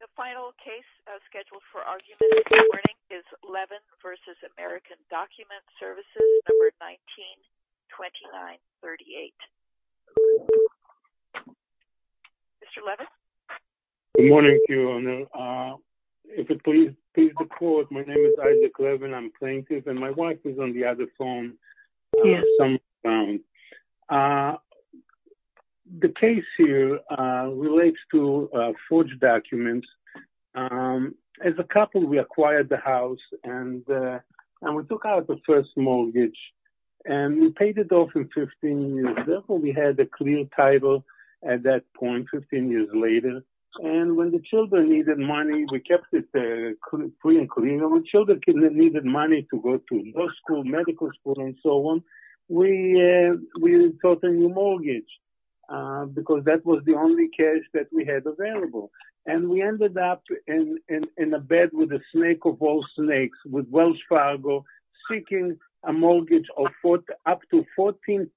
The final case scheduled for argument this morning is Levin v. American Document Services, No. 19-2938. Mr. Levin? Good morning, Your Honor. If it please the court, my name is Isaac Levin. I'm a plaintiff and my wife is on the other phone. The case here relates to forged documents. As a couple, we acquired the house and we took out the first mortgage and we paid it off in 15 years. Therefore, we had a clear title at that point, 15 years later. And when the children needed money, we kept it free. When children needed money to go to law school, medical school, and so on, we sought a new mortgage because that was the only case that we had available. And we ended up in a bed with a snake of all snakes, with Welch Fargo, seeking a mortgage up to 14%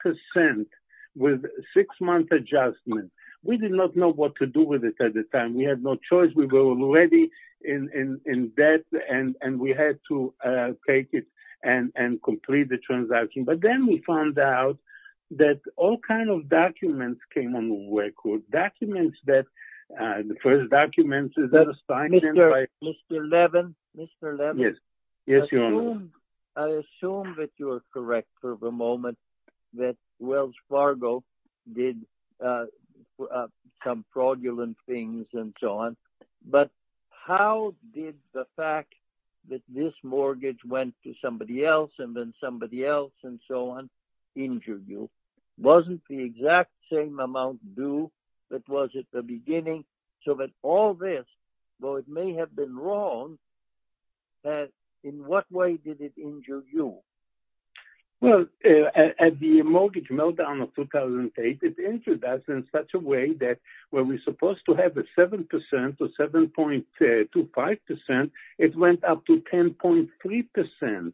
with a six-month adjustment. We did not know what to do with it at the time. We were already in debt and we had to take it and complete the transaction. But then we found out that all kinds of documents came on the record. The first document, is that a sign? Mr. Levin, I assume that you are correct for the moment that Welch Fargo did some fraudulent things and so on. But how did the fact that this mortgage went to somebody else, and then somebody else, and so on, injure you? Wasn't the exact same amount due that was at the beginning? So that all this, though it may have been wrong, in what way did it injure you? Well, at the mortgage meltdown of 2008, it injured us in such a way that when we're supposed to have a 7% or 7.25%, it went up to 10.3%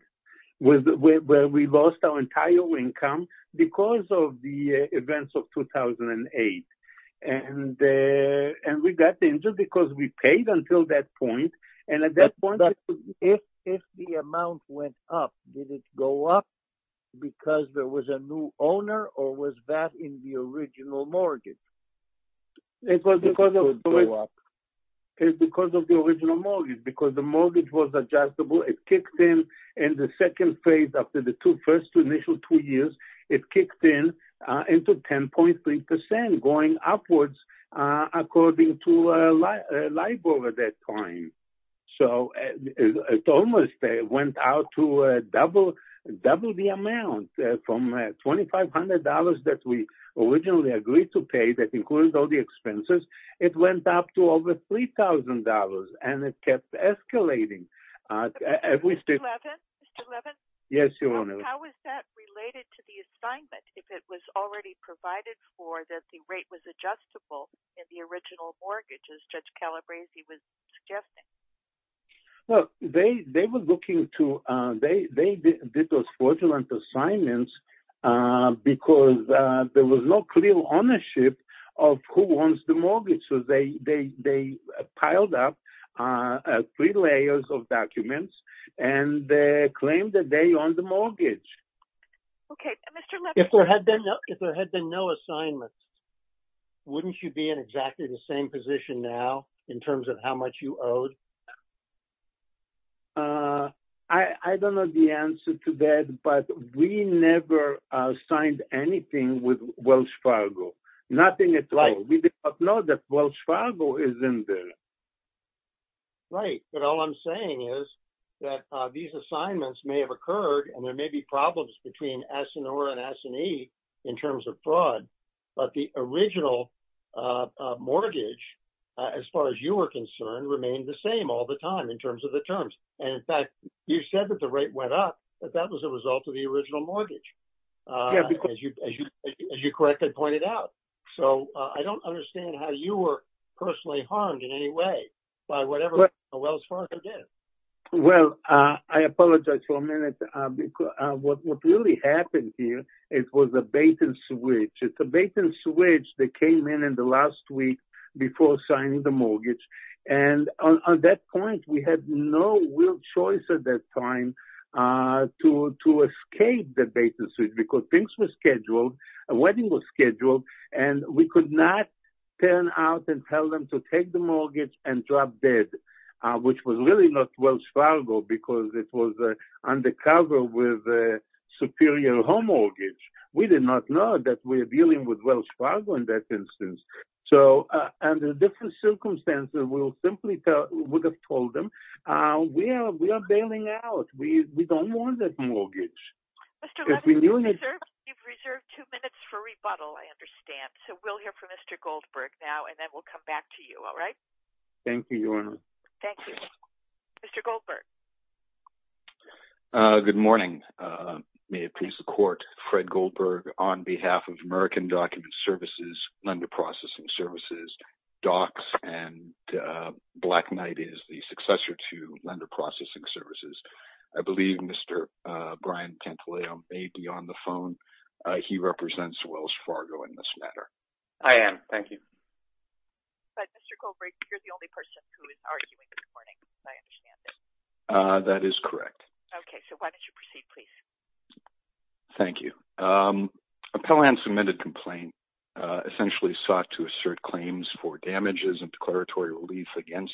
where we lost our entire income because of the events of 2008. And we got injured because we paid until that point. And at that point, if the amount went up, did it go up because there was a new owner or was that in the original mortgage? It was because of the original mortgage because the mortgage was adjustable. It kicked in in the second phase after the first initial two years, it kicked in into 10.3% going upwards according to LIBOR at that time. So it almost went out to double the amount from $2,500 that we originally agreed to pay that includes all the expenses. It went up to over $3,000 and it kept escalating. Mr. Levin? Yes, Your Honor. How is that related to the assignment? If it was already provided for that the rate was adjustable in the original mortgage as Judge Calabresi was suggesting? Well, they did those fraudulent assignments because there was no clear ownership of who owns the mortgage. So they piled up three layers of documents and they claimed that they no assignments. Wouldn't you be in exactly the same position now in terms of how much you owed? I don't know the answer to that, but we never signed anything with Welch Fargo. Nothing at all. We did not know that Welch Fargo is in there. Right. But all I'm saying is that these assignments may have occurred and there was fraud, but the original mortgage, as far as you were concerned, remained the same all the time in terms of the terms. And in fact, you said that the rate went up, but that was a result of the original mortgage, as you correctly pointed out. So I don't understand how you were personally harmed in any way by whatever Welch Fargo did. Well, I apologize for a minute. What really happened here, it was a bait and switch. It's a bait and switch that came in in the last week before signing the mortgage. And on that point, we had no real choice at that time to escape the bait and switch because things were scheduled, a wedding was scheduled, and we could not turn out and tell them to take the mortgage and drop dead, which was really not Welch Fargo because it was undercover with a superior home mortgage. We did not know that we're dealing with Welch Fargo in that instance. So under different circumstances, we simply would have told them, we are bailing out. We don't want that mortgage. Mr. Levin, you've reserved two minutes for rebuttal, I understand. So we'll hear from Mr. Goldberg now and then we'll come back to you, all right? Thank you, Your Honor. Thank you. Mr. Goldberg. Good morning. May it please the court, Fred Goldberg on behalf of American Document Services, Lender Processing Services, DOCS, and Black Knight is the successor to Lender Processing Services. I believe Mr. Brian Tantaleo may be on the phone. He represents Welch Fargo in this matter. I am, thank you. But Mr. Goldberg, you're the only person who is arguing this morning, as I understand it. That is correct. Okay, so why don't you proceed, please? Thank you. Appellant submitted complaint essentially sought to assert claims for damages and declaratory relief against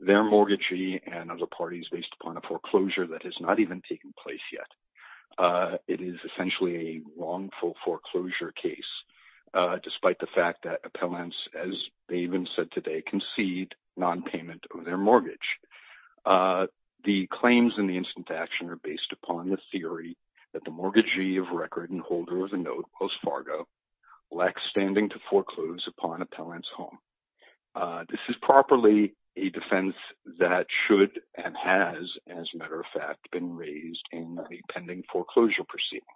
their mortgagee and other parties based upon a foreclosure that has not even taken place yet. It is essentially a wrongful foreclosure case, despite the fact that appellants, as they even said today, concede nonpayment of their mortgage. The claims in the instant action are based upon the theory that the mortgagee of record and holder of the note, Welch Fargo, lacks standing to foreclose upon appellant's home. This is properly a defense that should and has, as a matter of fact, been raised in the pending foreclosure proceeding.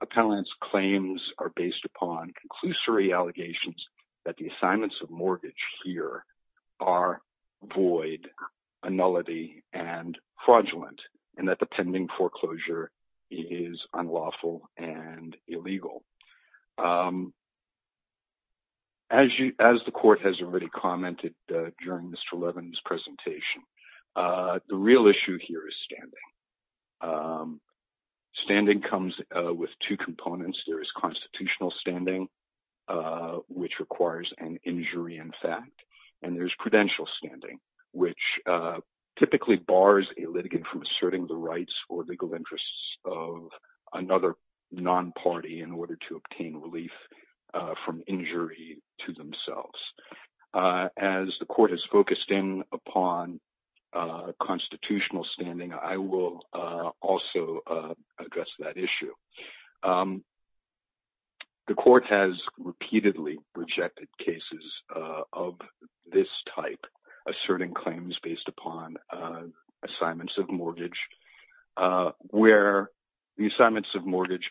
Appellants' claims are based upon conclusory allegations that the assignments of mortgage here are void, a nullity, and fraudulent, and that the pending foreclosure is unlawful and illegal. As the court has already commented during Mr. Levin's presentation, the real issue here is standing. Standing comes with two components. There is constitutional standing, which requires an injury in fact, and there's prudential standing, which typically bars a litigant from asserting the rights or legal interests of another non-party in order to obtain relief from injury to themselves. As the court has focused in upon constitutional standing, I will also address that issue. The court has repeatedly rejected cases of this type, asserting claims based upon assignments of mortgage, where the assignments of mortgage,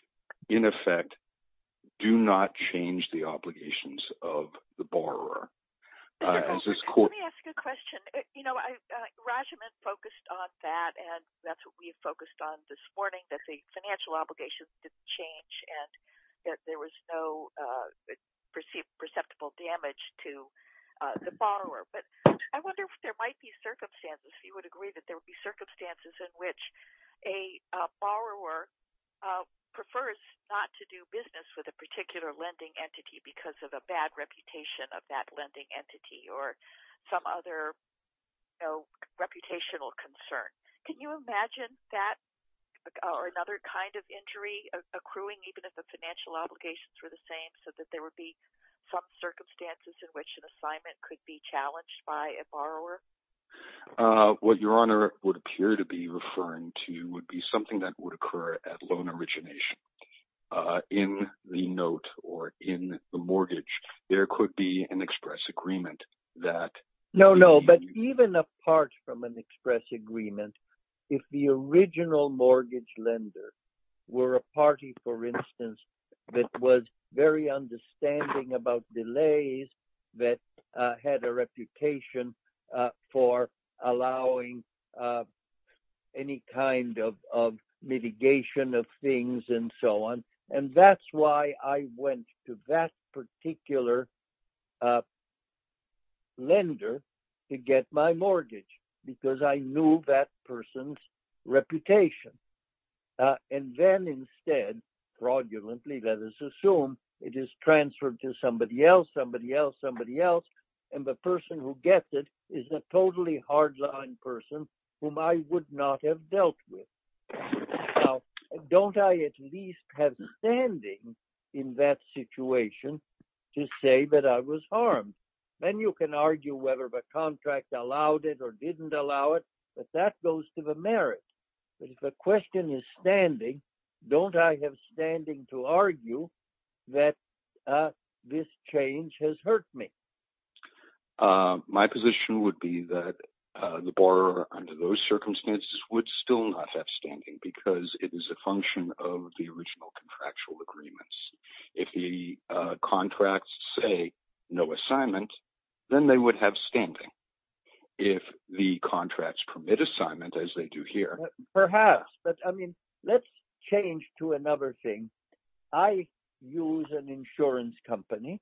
in effect, do not change the obligations of the borrower. Let me ask you a question. You know, Rajaman focused on that, and that's what we've focused on this morning, that the financial obligations didn't change and that there was no perceptible damage to the borrower. But I wonder if there might be circumstances, if you would agree, that there would be circumstances in which a borrower prefers not to do business with a entity or some other reputational concern. Can you imagine that or another kind of injury accruing even if the financial obligations were the same, so that there would be some circumstances in which an assignment could be challenged by a borrower? What Your Honor would appear to be referring to would be something that would occur at loan origination. In the note or in the mortgage, there could be an express agreement that... No, no. But even apart from an express agreement, if the original mortgage lender were a party, for instance, that was very understanding about delays that had a reputation for allowing any kind of mitigation of things and so on, and that's why I went to that particular lender to get my mortgage, because I knew that person's reputation. And then instead, fraudulently, let us assume it is transferred to somebody else, somebody else, somebody else, and the person who gets it is a totally hardline person whom I would not have standing in that situation to say that I was harmed. Then you can argue whether the contract allowed it or didn't allow it, but that goes to the merit. But if the question is standing, don't I have standing to argue that this change has hurt me? My position would be that the borrower under those circumstances would still not have standing because it is a function of the original contractual agreements. If the contracts say no assignment, then they would have standing. If the contracts permit assignment, as they do here... Perhaps, but I mean, let's change to another thing. I use an insurance company,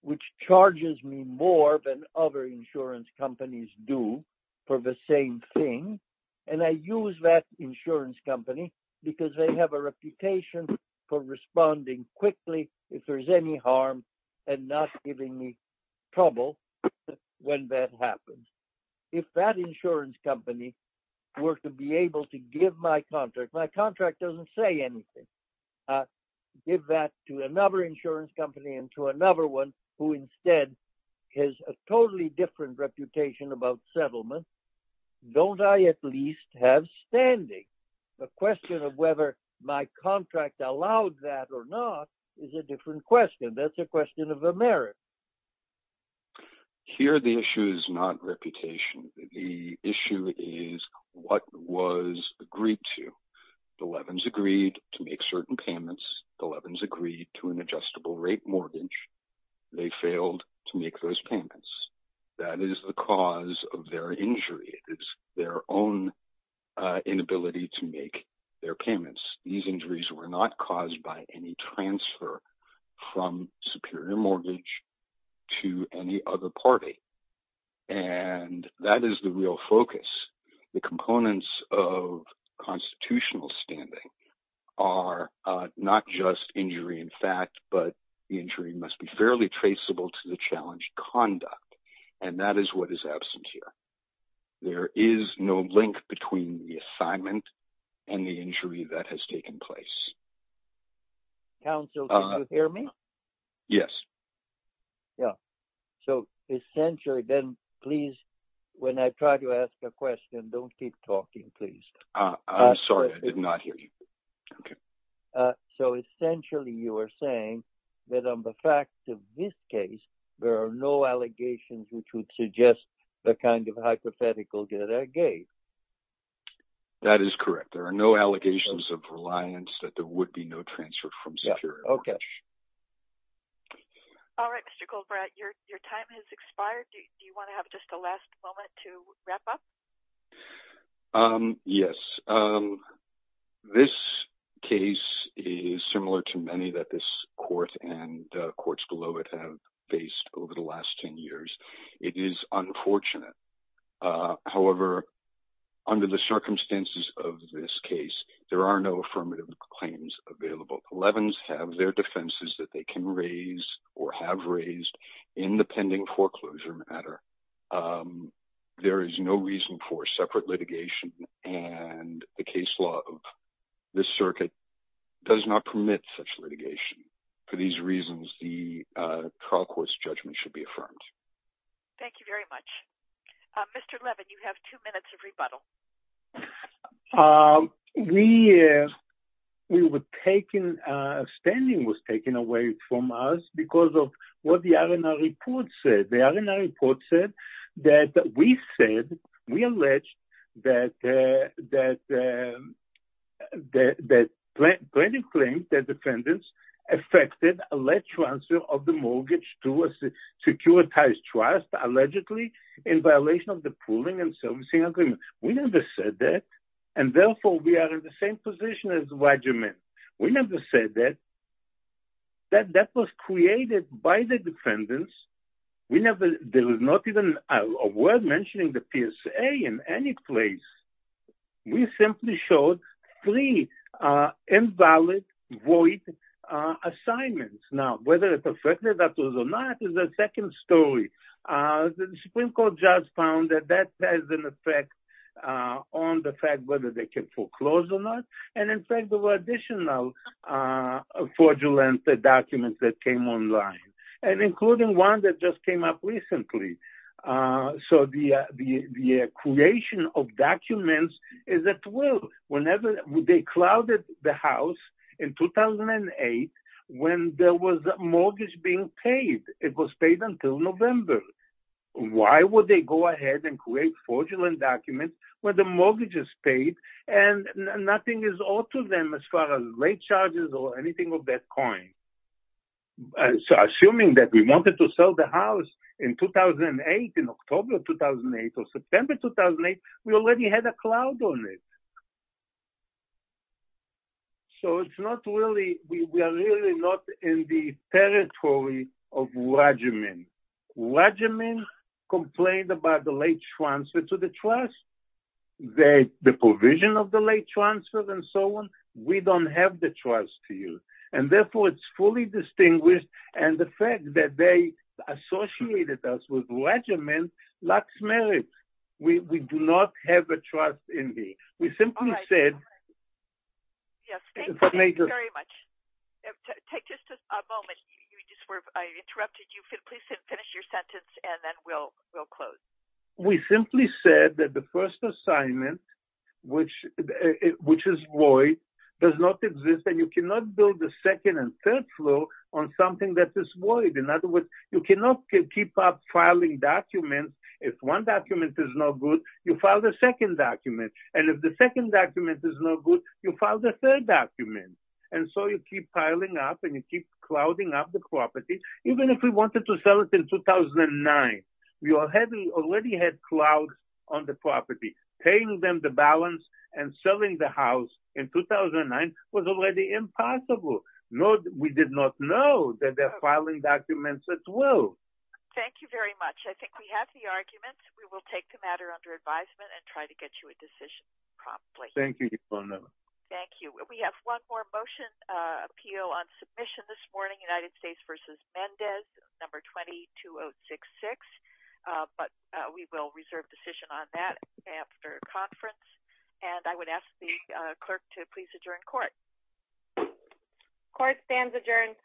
which charges me more than other insurance companies do for the same thing. And I use that insurance company because they have a reputation for responding quickly if there's any harm and not giving me trouble when that happens. If that insurance company were to be able to give my contract... My contract doesn't say anything. Give that to another insurance company and to another one who instead has a totally different reputation about settlement, don't I at least have standing? The question of whether my contract allowed that or not is a different question. That's a question of the merit. Here, the issue is not reputation. The issue is what was agreed to. The Levin's agreed to make certain payments. The Levin's agreed to an adjustable rate mortgage. They failed to make those payments. That is the cause of their injury. It is their own inability to make their payments. These injuries were not caused by any transfer from superior mortgage to any other party. And that is the real focus. The components of constitutional standing are not just injury in fact, but the injury must be fairly traceable to the challenge conduct. And that is what is absent here. There is no link between the assignment and the injury that has taken place. Counsel, did you hear me? Yes. Yeah. So essentially, then please, when I try to ask a question, don't keep talking, please. I'm sorry. I did not hear you. Okay. So essentially, you are saying that on the facts of this case, there are no allegations which would suggest the kind of hypothetical that I gave. That is correct. There are no allegations of reliance that there would be no transfer from superior mortgage. Okay. All right, Mr. Goldbratt, your time has expired. Do you want to have just a last moment to wrap up? Yes. This case is similar to many that this court and courts below it have faced over the last 10 years. It is unfortunate. However, under the circumstances of this case, there are no affirmative claims available. Elevens have their defenses that they can raise or have raised in the pending foreclosure matter. There is no reason for separate litigation. And the case law of this circuit does not permit such litigation. For these reasons, the trial court's judgment should be affirmed. Thank you very much. Mr. Levin, you have two minutes of rebuttal. Yes. We were taken, spending was taken away from us because of what the R&R report said. The R&R report said that we said, we alleged that the plaintiff claims that defendants affected a led transfer of the mortgage to a securitized trust, allegedly in violation of the pooling and servicing agreement. We never said that. And therefore we are in the same position as the regimen. We never said that. That was created by the defendants. We never, there was not even a word mentioning the PSA in any place. We simply showed three invalid, void assignments. Now, whether it's effective or not is a second story. The Supreme Court judge found that that has an effect on the fact whether they can foreclose or not. And in fact, there were additional fraudulent documents that came online and including one that just came up recently. So the creation of documents is at will. Whenever they clouded the house in 2008, when there was a mortgage being paid, it was paid until November. Why would they go ahead and create fraudulent documents when the mortgage is paid and nothing is owed to them as far as late charges or anything of that coin? So assuming that we wanted to sell the house in 2008, in October 2008 or September 2008, we already had a cloud on it. So it's not really, we are really not in the territory of regimen. Regimen complained about the late transfer to the trust, the provision of the late transfer and so on. We don't have the trust to you. And therefore it's fully distinguished. And the fact that they associated us with regimen lacks merit. We do not have a trust in me. We simply said... Yes, thank you very much. Take just a moment. I interrupted you. Please finish your sentence and then we'll close. We simply said that the first assignment, which is void, does not exist and you cannot build a second and third floor on something that is void. If one document is no good, you file the second document. And if the second document is no good, you file the third document. And so you keep piling up and you keep clouding up the property. Even if we wanted to sell it in 2009, we already had cloud on the property. Paying them the balance and selling the house in 2009 was already impossible. We did not know that they're I think we have the arguments. We will take the matter under advisement and try to get you a decision promptly. Thank you. Thank you. We have one more motion appeal on submission this morning, United States versus Mendez number 22066. But we will reserve decision on that after conference. And I would ask the clerk to please adjourn court. Court stands adjourned.